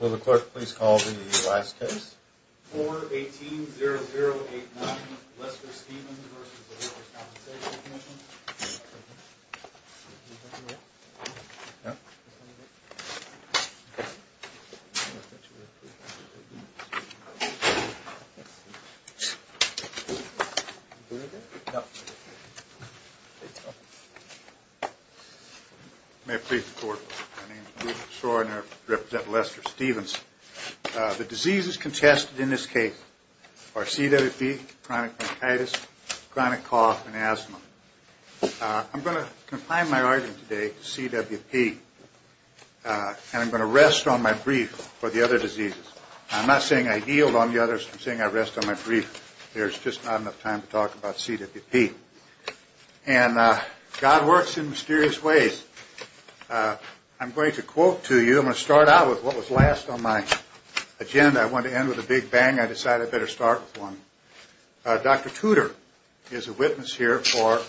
Will the clerk please call the last case? 4-18-0089 Lester Stevens v. The Workers' Compensation Commission 4-18-0089 Lester Stevens v. The Workers' Compensation Commission May it please the Court, my name is Bruce Shor and I represent Lester Stevens. The diseases contested in this case are CWP, chronic bronchitis, chronic cough and asthma. I'm going to confine my argument today to CWP and I'm going to rest on my brief for the other diseases. I'm not saying I yield on the others, I'm saying I rest on my brief. There's just not enough time to talk about CWP. And God works in mysterious ways. I'm going to quote to you, I'm going to start out with what was last on my agenda. I wanted to end with a big bang, I decided I'd better start with one. Dr. Tudor is a witness here for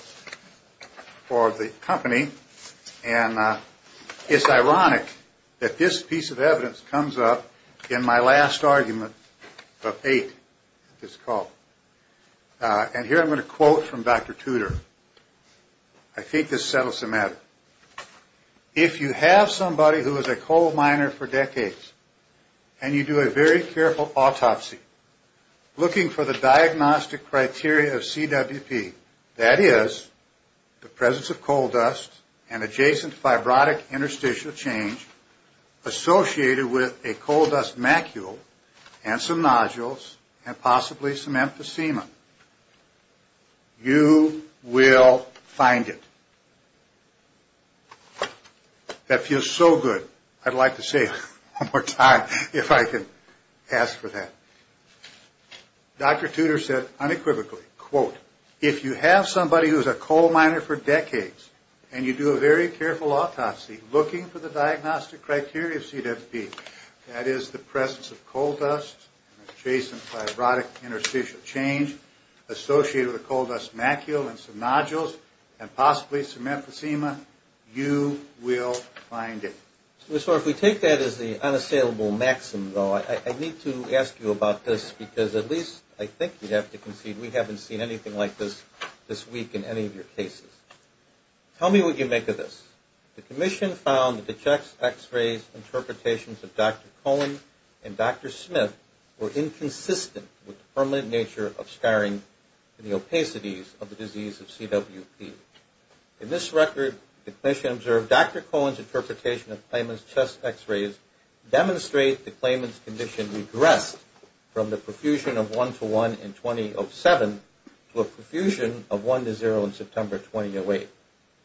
the company and it's ironic that this piece of evidence comes up in my last argument of eight. And here I'm going to quote from Dr. Tudor. I think this settles the matter. If you have somebody who is a coal miner for decades and you do a very careful autopsy looking for the diagnostic criteria of CWP, that is the presence of coal dust and adjacent fibrotic interstitial change associated with a coal dust macule and some nodules and possibly some emphysema, you will find it. That feels so good. I'd like to say it one more time if I can ask for that. Dr. Tudor said unequivocally, quote, if you have somebody who is a coal miner for decades and you do a very careful autopsy looking for the diagnostic criteria of CWP, that is the presence of coal dust and adjacent fibrotic interstitial change associated with a coal dust macule and some nodules and possibly some emphysema, you will find it. So if we take that as the unassailable maxim, though, I need to ask you about this because at least I think you'd have to concede we haven't seen anything like this this week in any of your cases. Tell me what you make of this. The Commission found that the chest X-rays interpretations of Dr. Cohen and Dr. Smith were inconsistent with the permanent nature of scarring and the opacities of the disease of CWP. In this record, the Commission observed Dr. Cohen's interpretation of Clayman's chest X-rays demonstrate the Clayman's condition regressed from the profusion of 1 to 1 in 2007 to a profusion of 1 to 0 in September 2008.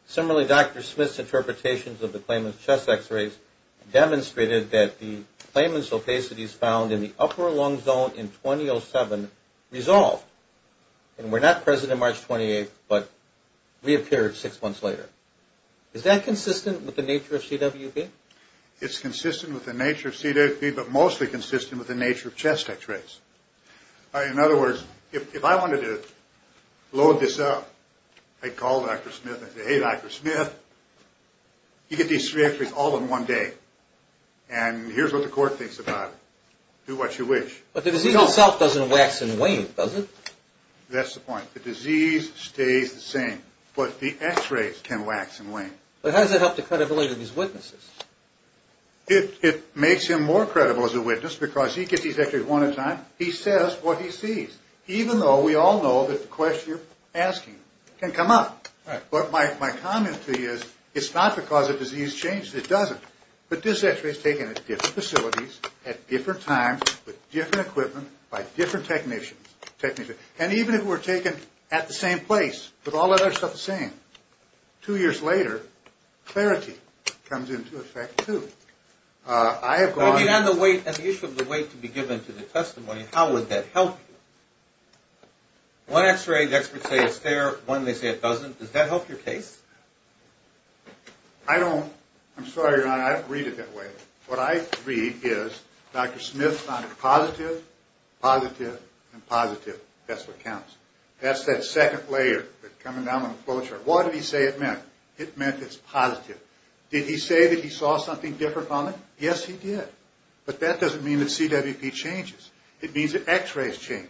Similarly, Dr. Smith's interpretations of the Clayman's chest X-rays demonstrated that the Clayman's opacities found in the upper lung zone in 2007 resolved and were not present on March 28th but reappeared six months later. Is that consistent with the nature of CWP? It's consistent with the nature of CWP but mostly consistent with the nature of chest X-rays. In other words, if I wanted to load this up, I'd call Dr. Smith and say, Hey, Dr. Smith, you get these three X-rays all in one day and here's what the court thinks about it. Do what you wish. But the disease itself doesn't wax and wane, does it? That's the point. The disease stays the same but the X-rays can wax and wane. But how does that help the credibility of these witnesses? It makes him more credible as a witness because he gets these X-rays one at a time. He says what he sees, even though we all know that the question you're asking can come up. But my comment to you is it's not because the disease changed. It doesn't. But this X-ray is taken at different facilities at different times with different equipment by different technicians. And even if it were taken at the same place with all the other stuff the same, two years later, clarity comes into effect, too. On the issue of the weight to be given to the testimony, how would that help you? One X-ray, the experts say it's there. One, they say it doesn't. Does that help your case? I don't. I'm sorry, Your Honor, I don't read it that way. What I read is Dr. Smith found it positive, positive, and positive. That's what counts. That's that second layer that's coming down on the flow chart. What did he say it meant? It meant it's positive. Did he say that he saw something different on it? Yes, he did. But that doesn't mean that CWP changes. It means that X-rays change.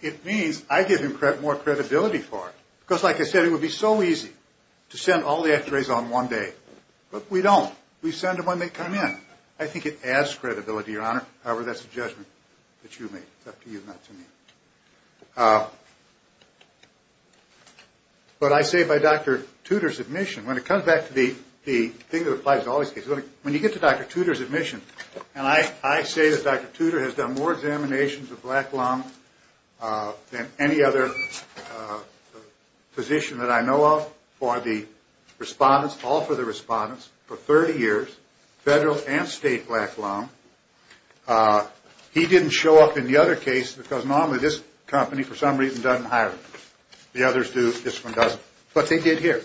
It means I give him more credibility for it because, like I said, it would be so easy to send all the X-rays on one day. But we don't. We send them when they come in. I think it adds credibility, Your Honor. However, that's a judgment that you make. It's up to you, not to me. But I say by Dr. Tudor's admission, when it comes back to the thing that applies to all these cases, when you get to Dr. Tudor's admission, and I say that Dr. Tudor has done more examinations of black lung than any other physician that I know of for the respondents, all for the respondents, for 30 years, federal and state black lung. He didn't show up in the other case because normally this company, for some reason, doesn't hire him. The others do. This one doesn't. But they did here.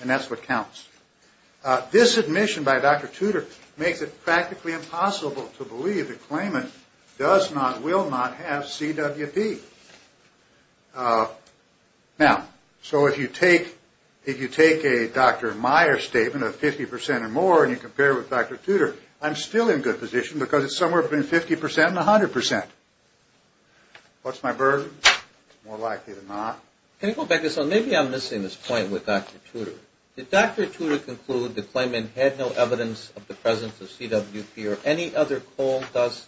And that's what counts. This admission by Dr. Tudor makes it practically impossible to believe that Klayman does not, will not have CWP. Now, so if you take a Dr. Meyer statement of 50% or more and you compare it with Dr. Tudor, I'm still in good position because it's somewhere between 50% and 100%. What's my burden? More likely than not. Can I go back to this? Maybe I'm missing this point with Dr. Tudor. Did Dr. Tudor conclude that Klayman had no evidence of the presence of CWP or any other coal dust,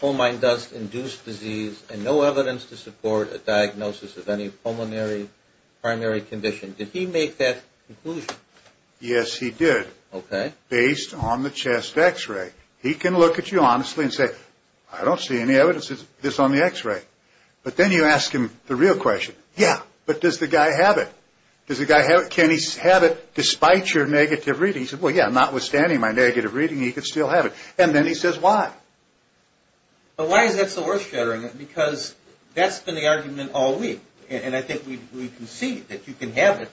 coal mine dust-induced disease, and no evidence to support a diagnosis of any pulmonary primary condition? Did he make that conclusion? Yes, he did. Okay. Based on the chest X-ray. He can look at you honestly and say, I don't see any evidence of this on the X-ray. But then you ask him the real question. Yeah, but does the guy have it? Does the guy have it? Can he have it despite your negative reading? He said, well, yeah, notwithstanding my negative reading, he could still have it. And then he says why. But why is that so worth shattering it? Because that's been the argument all week. And I think we can see that you can have it,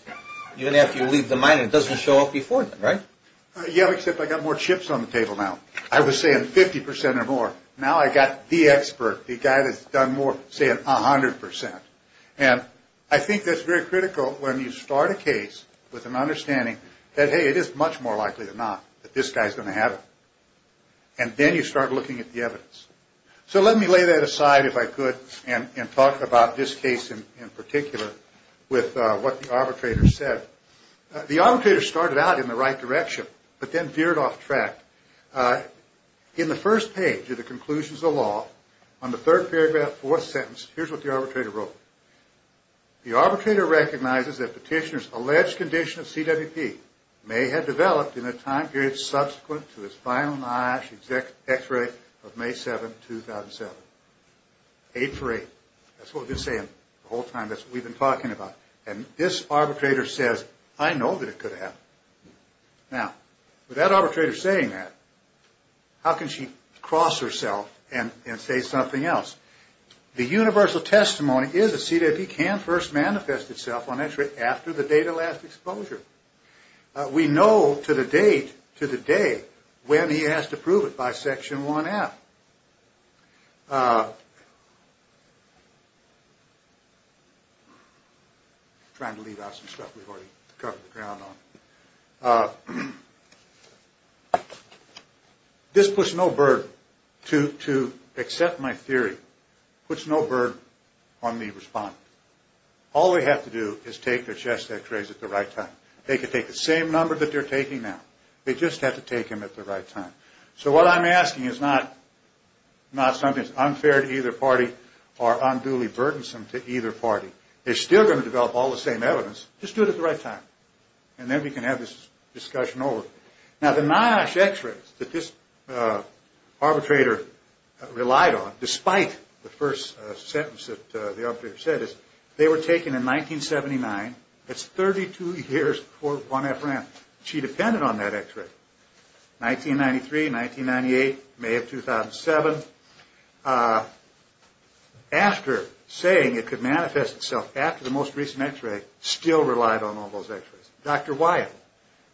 even after you leave the mine and it doesn't show up before then, right? Yeah, except I've got more chips on the table now. I was saying 50% or more. Now I've got the expert, the guy that's done more, saying 100%. And I think that's very critical when you start a case with an understanding that, hey, it is much more likely than not that this guy is going to have it. And then you start looking at the evidence. So let me lay that aside, if I could, and talk about this case in particular with what the arbitrator said. The arbitrator started out in the right direction but then veered off track. In the first page of the conclusions of the law, on the third paragraph, fourth sentence, here's what the arbitrator wrote. The arbitrator recognizes that petitioner's alleged condition of CWP may have developed in a time period subsequent to his final NIOSH x-ray of May 7, 2007. Eight for eight. That's what we've been saying the whole time. That's what we've been talking about. And this arbitrator says, I know that it could have. Now, with that arbitrator saying that, how can she cross herself and say something else? The universal testimony is that CWP can first manifest itself on x-ray after the date of last exposure. We know to the date, to the day, when he has to prove it by Section 1F. Trying to leave out some stuff we've already covered the ground on. This puts no burden to accept my theory. Puts no burden on the respondent. All they have to do is take their chest x-rays at the right time. They can take the same number that they're taking now. They just have to take them at the right time. So what I'm asking is not something that's unfair to either party or unduly burdensome to either party. They're still going to develop all the same evidence. Just do it at the right time. And then we can have this discussion over. Now, the NIOSH x-rays that this arbitrator relied on, despite the first sentence that the arbitrator said, they were taken in 1979. That's 32 years before 1F ran. She depended on that x-ray. 1993, 1998, May of 2007. After saying it could manifest itself after the most recent x-ray, still relied on all those x-rays. Dr. Wyatt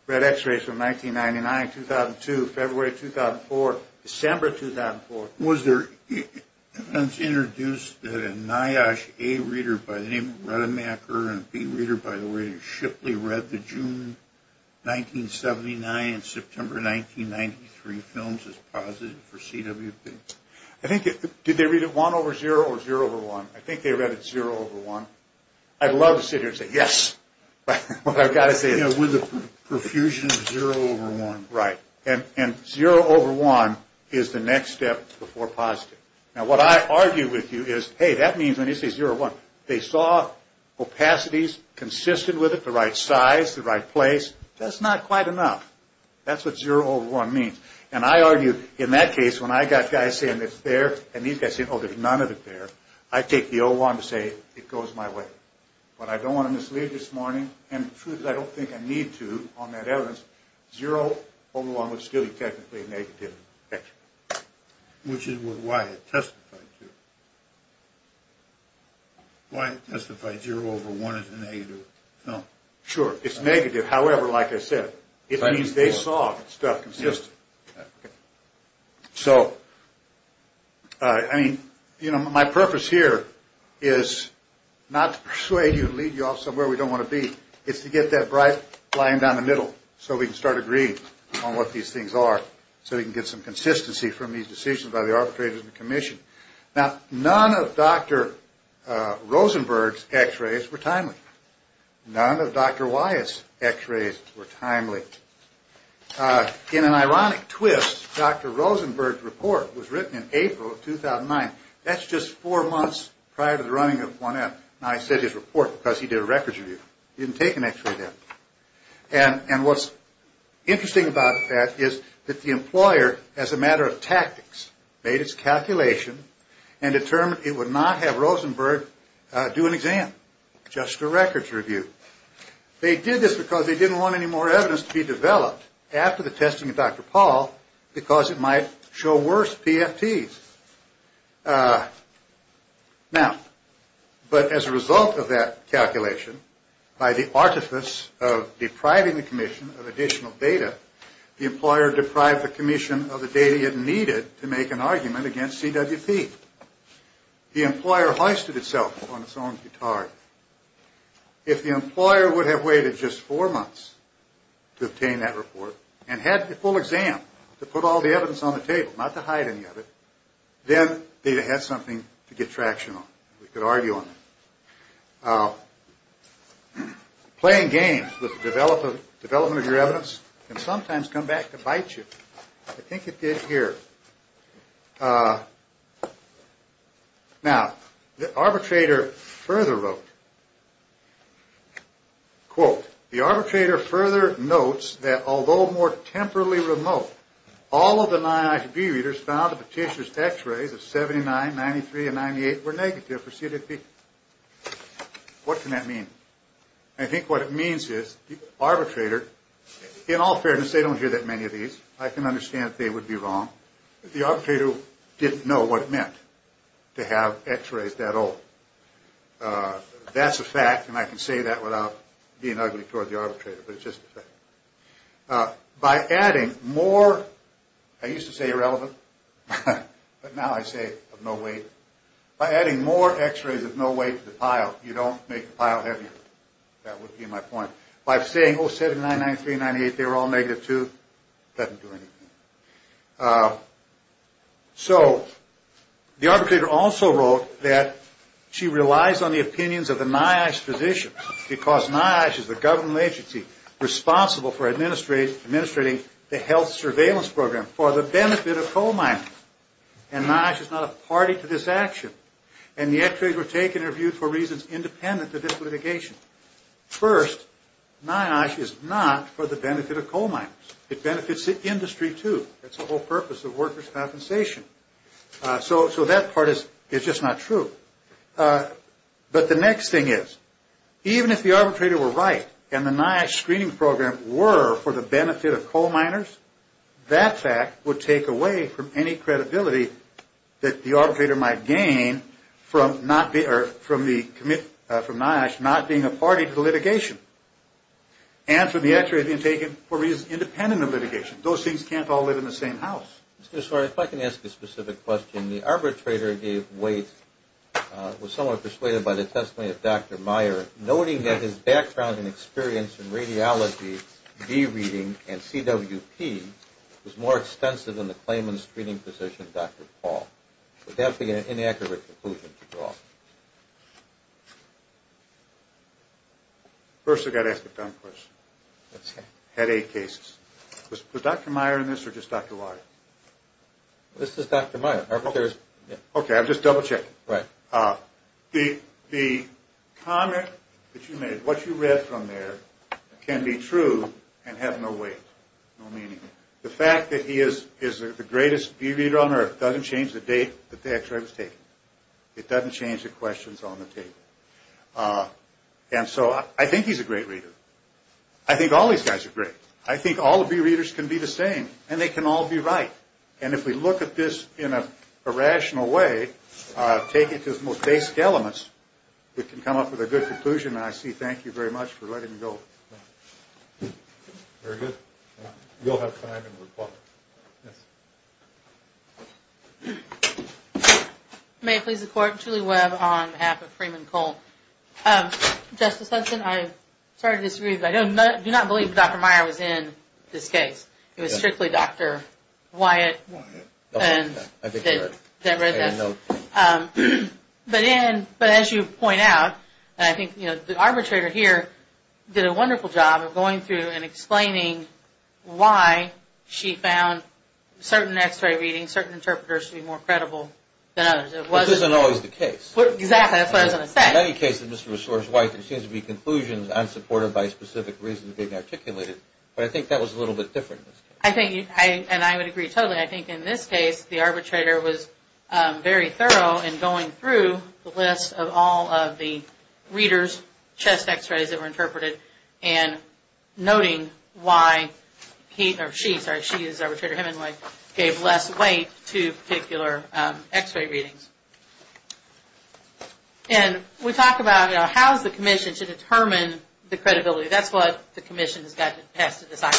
read x-rays from 1999, 2002, February 2004, December 2004. Was there evidence introduced that a NIOSH A reader by the name of Redemaker and B reader by the name of Shipley read the June 1979 and September 1993 films as positive for CWP? I think, did they read it 1 over 0 or 0 over 1? I think they read it 0 over 1. I'd love to sit here and say yes. But I've got to say it. With the profusion of 0 over 1. Right. And 0 over 1 is the next step before positive. Now, what I argue with you is, hey, that means when you say 0 over 1, they saw opacities consistent with it, the right size, the right place. That's not quite enough. That's what 0 over 1 means. And I argue in that case when I got guys saying it's there and these guys saying, oh, there's none of it there. I take the 0-1 to say it goes my way. But I don't want to mislead this morning. And the truth is I don't think I need to on that evidence. 0 over 1 would still be technically negative. Which is what Wyatt testified to. Wyatt testified 0 over 1 is a negative film. Sure. It's negative. However, like I said, it means they saw stuff consistent. So, I mean, you know, my purpose here is not to persuade you, lead you off somewhere we don't want to be. It's to get that bright line down the middle so we can start agreeing on what these things are. So we can get some consistency from these decisions by the arbitrators and the commission. Now, none of Dr. Rosenberg's x-rays were timely. None of Dr. Wyatt's x-rays were timely. In an ironic twist, Dr. Rosenberg's report was written in April of 2009. That's just four months prior to the running of 1M. Now, I said his report because he did a records review. He didn't take an x-ray then. And what's interesting about that is that the employer, as a matter of tactics, made its calculation and determined it would not have Rosenberg do an exam, just a records review. They did this because they didn't want any more evidence to be developed after the testing of Dr. Paul because it might show worse PFTs. Now, but as a result of that calculation, by the artifice of depriving the commission of additional data, the employer deprived the commission of the data it needed to make an argument against CWP. The employer hoisted itself upon its own guitar. If the employer would have waited just four months to obtain that report and had the full exam to put all the evidence on the table, not to hide any of it, then they'd have had something to get traction on. We could argue on that. Playing games with the development of your evidence can sometimes come back to bite you. I think it did here. Now, the arbitrator further wrote, quote, the arbitrator further notes that although more temporally remote, all of the NIIB readers found that Petitia's X-rays of 79, 93, and 98 were negative for CWP. What can that mean? I think what it means is the arbitrator, in all fairness, they don't hear that many of these. I can understand if they would be wrong. The arbitrator didn't know what it meant to have X-rays that old. That's a fact, and I can say that without being ugly toward the arbitrator, but it's just a fact. By adding more, I used to say irrelevant, but now I say of no weight, by adding more X-rays of no weight to the pile, you don't make the pile heavier. That would be my point. By saying, oh, 79, 93, and 98, they were all negative, too, doesn't do anything. So the arbitrator also wrote that she relies on the opinions of the NIOSH physicians because NIOSH is the government agency responsible for administrating the health surveillance program for the benefit of coal miners, and NIOSH is not a party to this action, and the X-rays were taken or viewed for reasons independent of this litigation. First, NIOSH is not for the benefit of coal miners. It benefits the industry, too. That's the whole purpose of workers' compensation. So that part is just not true. But the next thing is, even if the arbitrator were right and the NIOSH screening program were for the benefit of coal miners, that fact would take away from any credibility that the arbitrator might gain from NIOSH not being a party to the litigation and from the X-rays being taken for reasons independent of litigation. Those things can't all live in the same house. Mr. Sorry, if I can ask a specific question. The arbitrator gave weight, was somewhat persuaded by the testimony of Dr. Meyer, noting that his background and experience in radiology, dereading, and CWP was more extensive than the claimant's screening physician, Dr. Paul. Would that be an inaccurate conclusion to draw? First, I've got to ask a dumb question. Headache cases. Was Dr. Meyer in this or just Dr. Weyer? This is Dr. Meyer. Okay, I'll just double-check. Right. The comment that you made, what you read from there, can be true and have no weight, no meaning. The fact that he is the greatest bee reader on earth doesn't change the date that the X-ray was taken. It doesn't change the questions on the table. And so I think he's a great reader. I think all these guys are great. I think all the bee readers can be the same, and they can all be right. And if we look at this in a rational way, take it to its most basic elements, we can come up with a good conclusion, and I say thank you very much for letting me go. Very good. You'll have time to reply. Yes. May it please the Court, Julie Webb on behalf of Freeman Cole. Justice Hudson, I'm sorry to disagree, but I do not believe Dr. Meyer was in this case. It was strictly Dr. Wyatt that read this. But as you point out, I think the arbitrator here did a wonderful job of going through and explaining why she found certain X-ray readings, certain interpreters to be more credible than others. Which isn't always the case. Exactly. That's what I was going to say. In many cases, Mr. Resorts, Wyatt, there seems to be conclusions unsupported by specific reasons being articulated. But I think that was a little bit different in this case. And I would agree totally. I think in this case, the arbitrator was very thorough in going through the list of all of the readers' chest X-rays that were interpreted and noting why he or she, sorry, she is the arbitrator, him and Wyatt, gave less weight to particular X-ray readings. And we talk about, you know, how is the commission to determine the credibility? That's what the commission has to decide.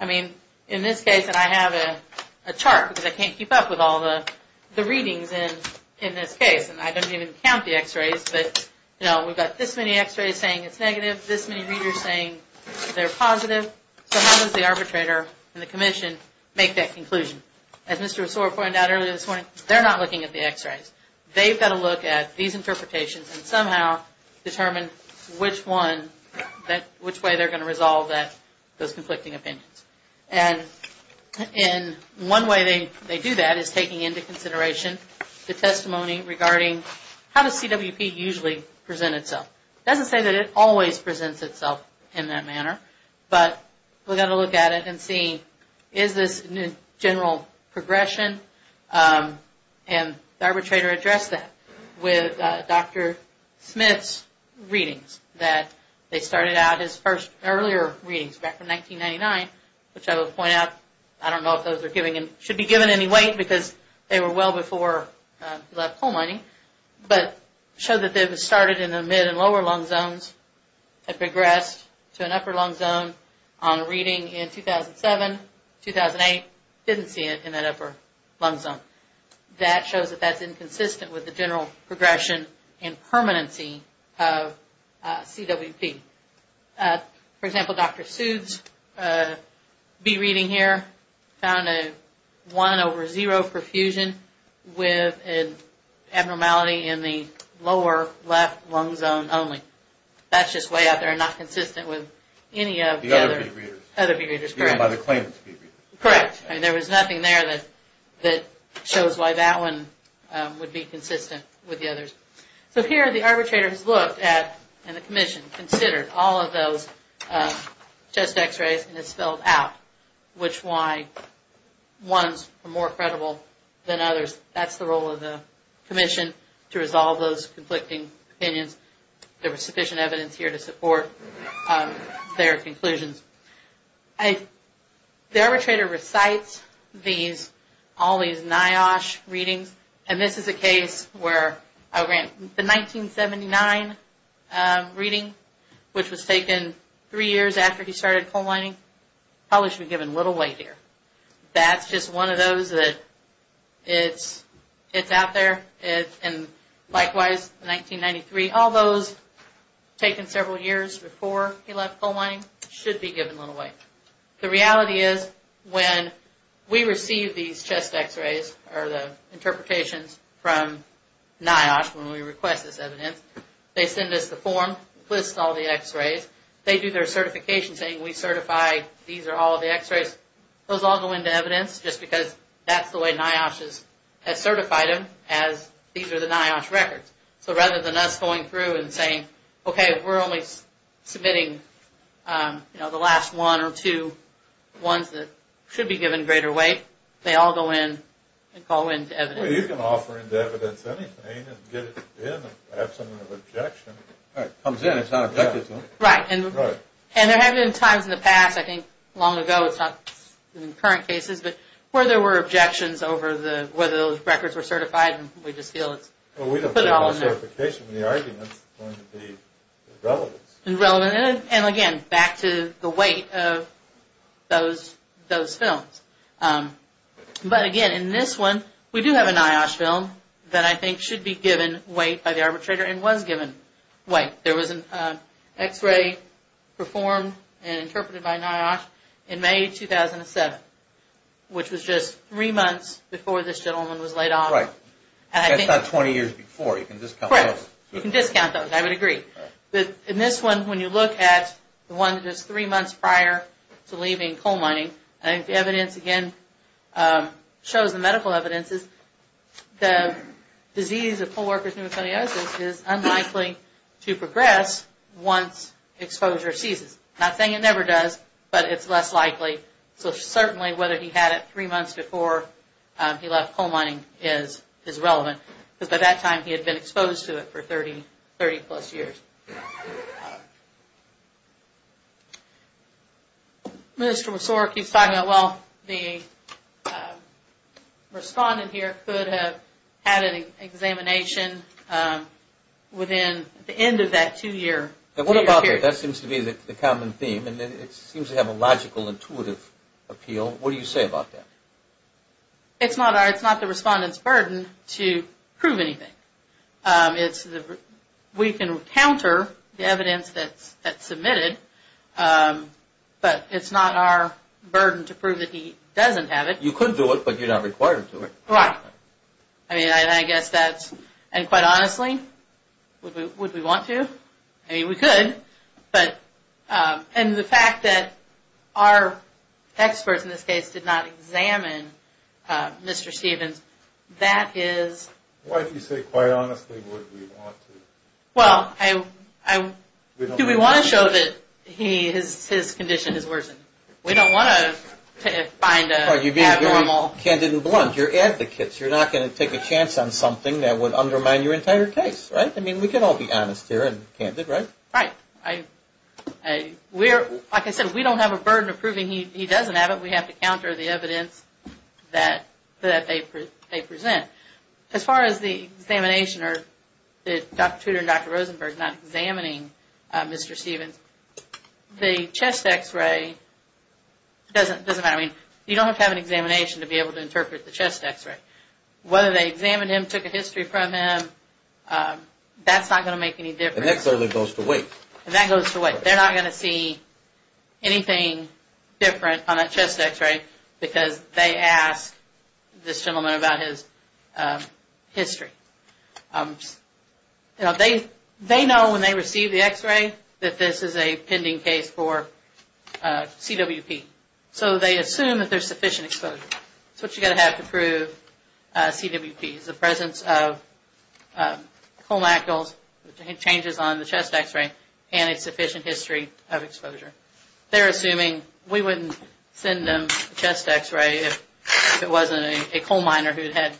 I mean, in this case, and I have a chart because I can't keep up with all the readings in this case, and I don't even count the X-rays, but, you know, we've got this many X-rays saying it's negative, this many readers saying they're positive. So how does the arbitrator and the commission make that conclusion? As Mr. Resort pointed out earlier this morning, they're not looking at the X-rays. They've got to look at these interpretations and somehow determine which one, which way they're going to resolve those conflicting opinions. And one way they do that is taking into consideration the testimony regarding how does CWP usually present itself. It doesn't say that it always presents itself in that manner, but we've got to look at it and see, is this a general progression, and the arbitrator addressed that with Dr. Smith's readings that they started out as first, earlier readings back from 1999, which I will point out, I don't know if those are giving, should be given any weight because they were well before he left coal mining, but showed that it was started in the mid and lower lung zones, had progressed to an upper lung zone on a reading in 2007, 2008, didn't see it in that upper lung zone. That shows that that's inconsistent with the general progression and permanency of CWP. For example, Dr. Soothe's B-reading here found a 1 over 0 perfusion with an abnormality in the lower left lung zone only. That's just way out there and not consistent with any of the other B-readers. Correct. There was nothing there that shows why that one would be consistent with the others. So here the arbitrator has looked at and the commission considered all of those chest x-rays and has spelled out which ones were more credible than others. That's the role of the commission to resolve those conflicting opinions. There was sufficient evidence here to support their conclusions. The arbitrator recites all these NIOSH readings and this is a case where the 1979 reading, which was taken three years after he started coal mining, probably should be given little weight here. That's just one of those that it's out there. And likewise, 1993, all those taken several years before he left coal mining should be given little weight. The reality is when we receive these chest x-rays or the interpretations from NIOSH when we request this evidence, they send us the form, list all the x-rays. They do their certification saying we certify these are all of the x-rays. Those all go into evidence just because that's the way NIOSH has certified them as these are the NIOSH records. So rather than us going through and saying, okay, we're only submitting the last one or two ones that should be given greater weight, they all go in and call into evidence. Well, you can offer into evidence anything and get it in and have some objection. It comes in, it's not objected to. Right. And there have been times in the past, I think long ago, it's not in current cases, but where there were objections over whether those records were certified and we just feel it's put it all in there. Well, we don't say no certification when the argument is going to be irrelevant. And again, back to the weight of those films. But again, in this one, we do have a NIOSH film that I think should be given weight by the arbitrator and was given weight. There was an x-ray performed and interpreted by NIOSH in May 2007, which was just three months before this gentleman was laid off. Right. That's not 20 years before. You can discount those. Correct. You can discount those. I would agree. In this one, when you look at the one that was three months prior to leaving coal mining, I think the evidence again shows the medical evidence is the disease of coal worker's pneumothorax is unlikely to progress once exposure ceases. I'm not saying it never does, but it's less likely. So certainly whether he had it three months before he left coal mining is relevant, because by that time he had been exposed to it for 30 plus years. Thank you. Mr. Messore keeps talking about, well, the respondent here could have had an examination within the end of that two-year period. What about that? That seems to be the common theme, and it seems to have a logical, intuitive appeal. What do you say about that? It's not the respondent's burden to prove anything. We can counter the evidence that's submitted, but it's not our burden to prove that he doesn't have it. You could do it, but you're not required to do it. Right. I mean, I guess that's – and quite honestly, would we want to? I mean, we could, but – and the fact that our experts in this case did not examine Mr. Stevens, that is – Why do you say, quite honestly, would we want to? Well, do we want to show that his condition has worsened? We don't want to find an abnormal – You're being very candid and blunt. You're advocates. You're not going to take a chance on something that would undermine your entire case, right? I mean, we can all be honest here and candid, right? Right. Like I said, we don't have a burden of proving he doesn't have it. We have to counter the evidence that they present. As far as the examination or Dr. Tudor and Dr. Rosenberg not examining Mr. Stevens, the chest X-ray doesn't matter. I mean, you don't have to have an examination to be able to interpret the chest X-ray. Whether they examined him, took a history from him, that's not going to make any difference. And that clearly goes to weight. And that goes to weight. They're not going to see anything different on a chest X-ray because they asked this gentleman about his history. You know, they know when they receive the X-ray that this is a pending case for CWP. So they assume that there's sufficient exposure. That's what you're going to have to prove CWP is the presence of colnacles, the changes on the chest X-ray, and its sufficient history of exposure. They're assuming we wouldn't send them a chest X-ray if it wasn't a coal miner who had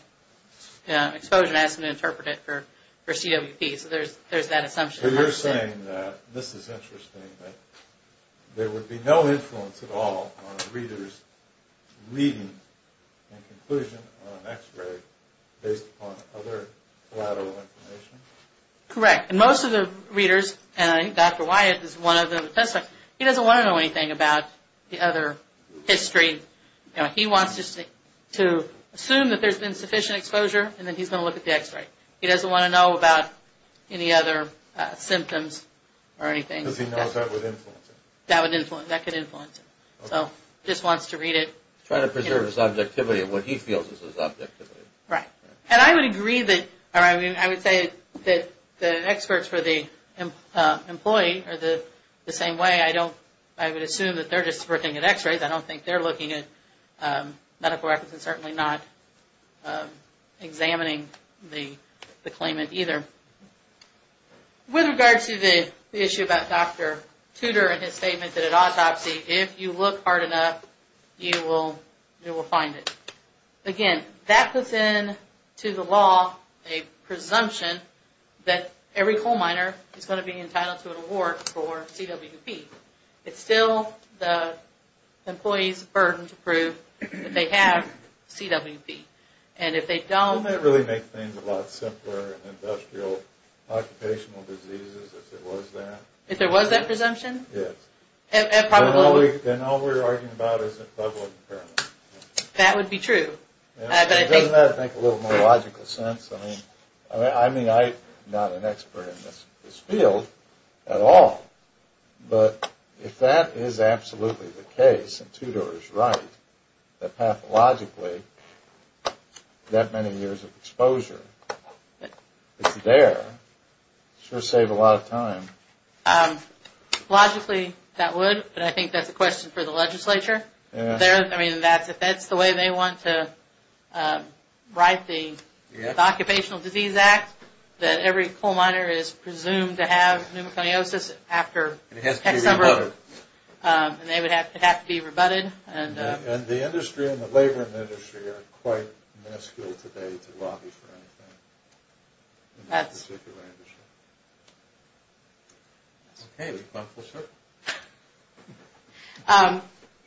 had exposure and asked them to interpret it for CWP. So there's that assumption. So you're saying that this is interesting, that there would be no influence at all on a reader's reading and conclusion on an X-ray based upon other collateral information? Correct. And most of the readers, and I think Dr. Wyatt is one of them, he doesn't want to know anything about the other history. You know, he wants to assume that there's been sufficient exposure, and then he's going to look at the X-ray. He doesn't want to know about any other symptoms or anything. Because he knows that would influence it. That would influence it. That could influence it. So he just wants to read it. Trying to preserve his objectivity and what he feels is his objectivity. Right. And I would agree that, I mean, I would say that the experts for the employee are the same way. I don't, I would assume that they're just looking at X-rays. I don't think they're looking at medical records and certainly not examining the claimant either. With regard to the issue about Dr. Tudor and his statement that at autopsy, if you look hard enough, you will find it. Again, that puts into the law a presumption that every coal miner is going to be entitled to an award for CWP. It's still the employee's burden to prove that they have CWP. And if they don't... Wouldn't that really make things a lot simpler in industrial occupational diseases if there was that? If there was that presumption? Yes. And probably... Then all we're arguing about is a double impairment. That would be true. But I think... Doesn't that make a little more logical sense? I mean, I'm not an expert in this field at all, but if that is absolutely the case and Tudor is right, that pathologically that many years of exposure is there, it sure saved a lot of time. Logically, that would, but I think that's a question for the legislature. I mean, if that's the way they want to write the Occupational Disease Act, that every coal miner is presumed to have pneumoconiosis after... It has to be rebutted. It would have to be rebutted. And the industry and the labor industry are quite minuscule today to lobby for anything. That's... In this particular industry. Okay, we've gone full circle.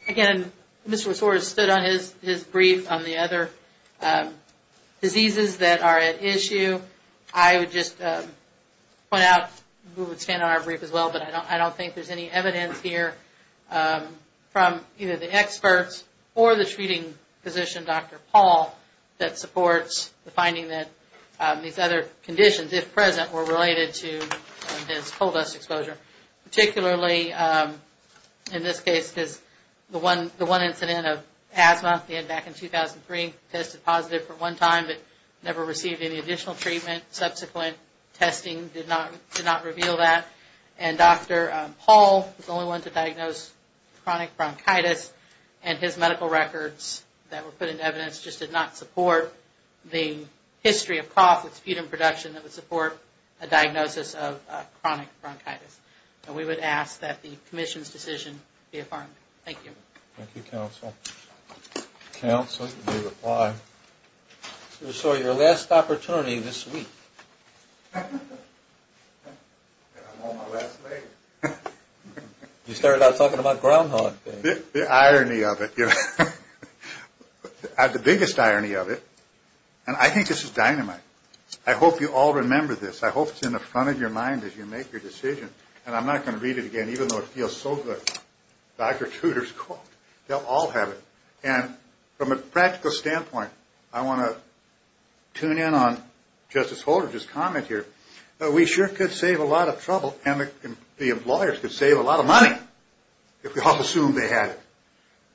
Again, Mr. Resor has stood on his brief on the other diseases that are at issue. I would just point out, we would stand on our brief as well, but I don't think there's any evidence here from either the experts or the treating physician, Dr. Paul, that supports the finding that these other conditions, if present, were related to this coal dust exposure. Particularly in this case, because the one incident of asthma back in 2003, tested positive for one time, but never received any additional treatment. Subsequent testing did not reveal that. And Dr. Paul was the only one to diagnose chronic bronchitis, and his medical records that were put into evidence just did not support the history of cough, with sputum production that would support a diagnosis of chronic bronchitis. And we would ask that the Commission's decision be affirmed. Thank you. Thank you, Counsel. Counsel, you may reply. Mr. Resor, your last opportunity this week. And I'm on my last leg. You started out talking about Groundhog Day. The irony of it. The biggest irony of it, and I think this is dynamite. I hope you all remember this. I hope it's in the front of your mind as you make your decision. And I'm not going to read it again, even though it feels so good. Dr. Tudor's quote. They'll all have it. And from a practical standpoint, I want to tune in on Justice Holder's comment here. We sure could save a lot of trouble, and the employers could save a lot of money, if we all assumed they had it.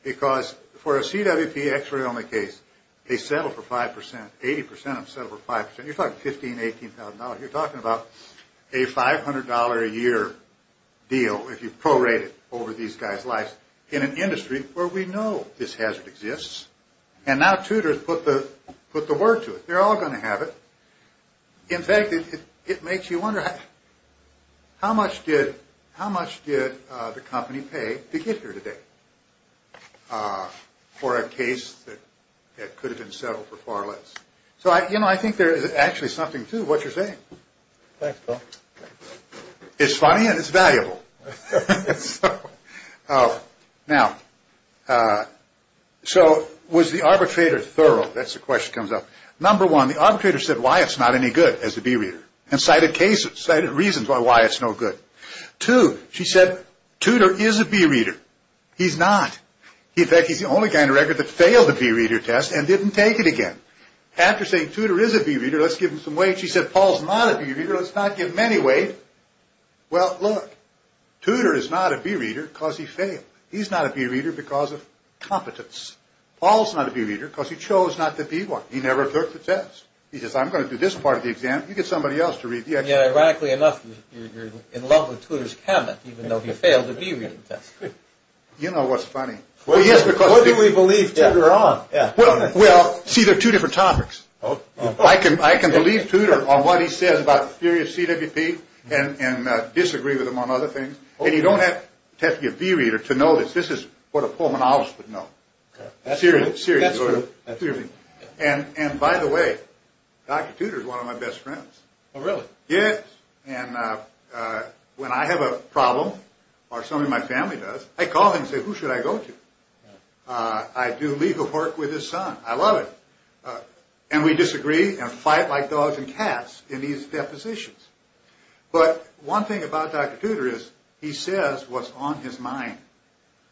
Because for a CWP x-ray only case, they settle for 5%. 80% of them settle for 5%. You're talking $15,000, $18,000. You're talking about a $500 a year deal, if you prorate it over these guys' lives, in an industry where we know this hazard exists. And now Tudor's put the word to it. They're all going to have it. In fact, it makes you wonder, how much did the company pay to get here today, for a case that could have been settled for far less? So, you know, I think there is actually something to what you're saying. Thanks, Bill. It's funny, and it's valuable. Now, so was the arbitrator thorough? That's the question that comes up. Number one, the arbitrator said, why it's not any good as a B-reader, and cited cases, cited reasons why it's no good. Two, she said, Tudor is a B-reader. He's not. In fact, he's the only guy on the record that failed the B-reader test, and didn't take it again. After saying, Tudor is a B-reader, let's give him some weight, she said, Paul's not a B-reader, let's not give him any weight. Well, look, Tudor is not a B-reader because he failed. He's not a B-reader because of competence. Paul's not a B-reader because he chose not to be one. He never took the test. He says, I'm going to do this part of the exam. You get somebody else to read the exam. Yeah, ironically enough, you're in love with Tudor's cabinet, even though he failed the B-reading test. You know what's funny? What do we believe Tudor on? Well, see, they're two different topics. I can believe Tudor on what he says about the theory of CWP and disagree with him on other things. And you don't have to be a B-reader to know this. This is what a Pullman obvious would know. That's true. And by the way, Dr. Tudor is one of my best friends. Oh, really? Yes. And when I have a problem, or some of my family does, I call him and say, who should I go to? I do legal work with his son. I love it. And we disagree and fight like dogs and cats in these depositions. But one thing about Dr. Tudor is he says what's on his mind.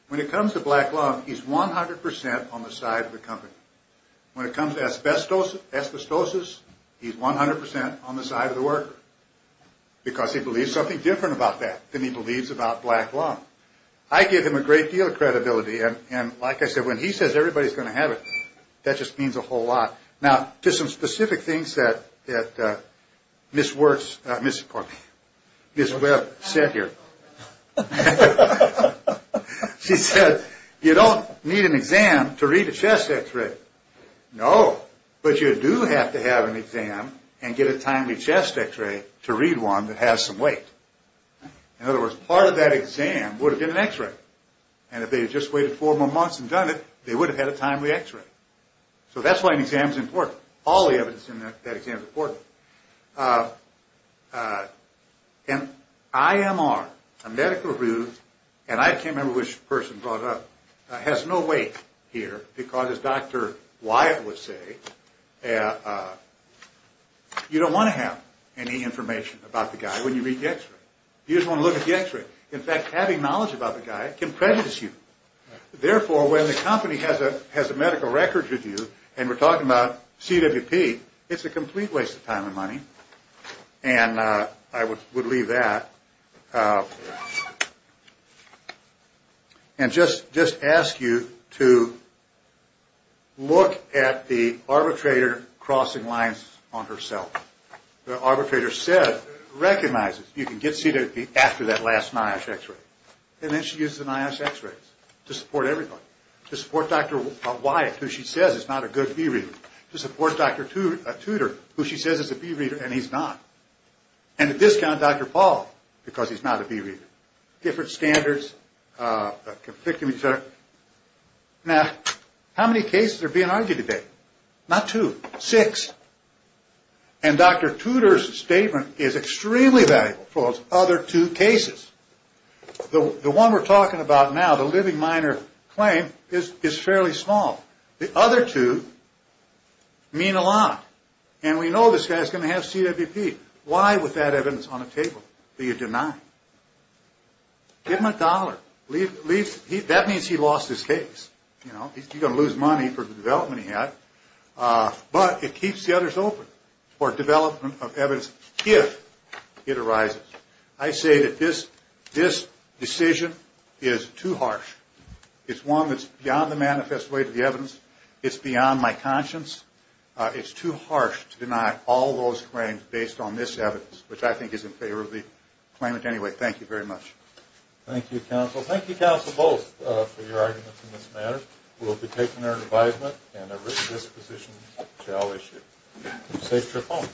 When it comes to black love, he's 100% on the side of the company. When it comes to asbestosis, he's 100% on the side of the worker because he believes something different about that than he believes about black love. I give him a great deal of credibility, and like I said, when he says everybody's going to have it, that just means a whole lot. Now, just some specific things that Ms. Webb said here. She said, you don't need an exam to read a chest x-ray. No. But you do have to have an exam and get a timely chest x-ray to read one that has some weight. In other words, part of that exam would have been an x-ray. And if they had just waited four more months and done it, they would have had a timely x-ray. So that's why an exam is important. All the evidence in that exam is important. An IMR, a medical review, and I can't remember which person brought it up, has no weight here because, as Dr. Wyatt would say, you don't want to have any information about the guy when you read the x-ray. You just want to look at the x-ray. In fact, having knowledge about the guy can prejudice you. Therefore, when the company has a medical record review and we're talking about CWP, it's a complete waste of time and money. And I would leave that. And just ask you to look at the arbitrator crossing lines on herself. The arbitrator said, recognizes, you can get CWP after that last NIOSH x-ray. And then she uses an NIOSH x-ray to support everybody. To support Dr. Wyatt, who she says is not a good B-reader. To support Dr. Tudor, who she says is a B-reader and he's not. And to discount Dr. Paul, because he's not a B-reader. Different standards. Now, how many cases are being argued today? Not two, six. And Dr. Tudor's statement is extremely valuable for those other two cases. The one we're talking about now, the living minor claim, is fairly small. The other two mean a lot. And we know this guy's going to have CWP. Why with that evidence on the table? Do you deny? Give him a dollar. That means he lost his case. He's going to lose money for the development he had. But it keeps the others open for development of evidence if it arises. I say that this decision is too harsh. It's one that's beyond the manifest weight of the evidence. It's beyond my conscience. It's too harsh to deny all those claims based on this evidence, which I think is in favor of the claimant anyway. Thank you very much. Thank you, counsel. Thank you, counsel, both, for your arguments in this matter. We'll be taking our advisement and a written disposition shall issue. Safe trip home.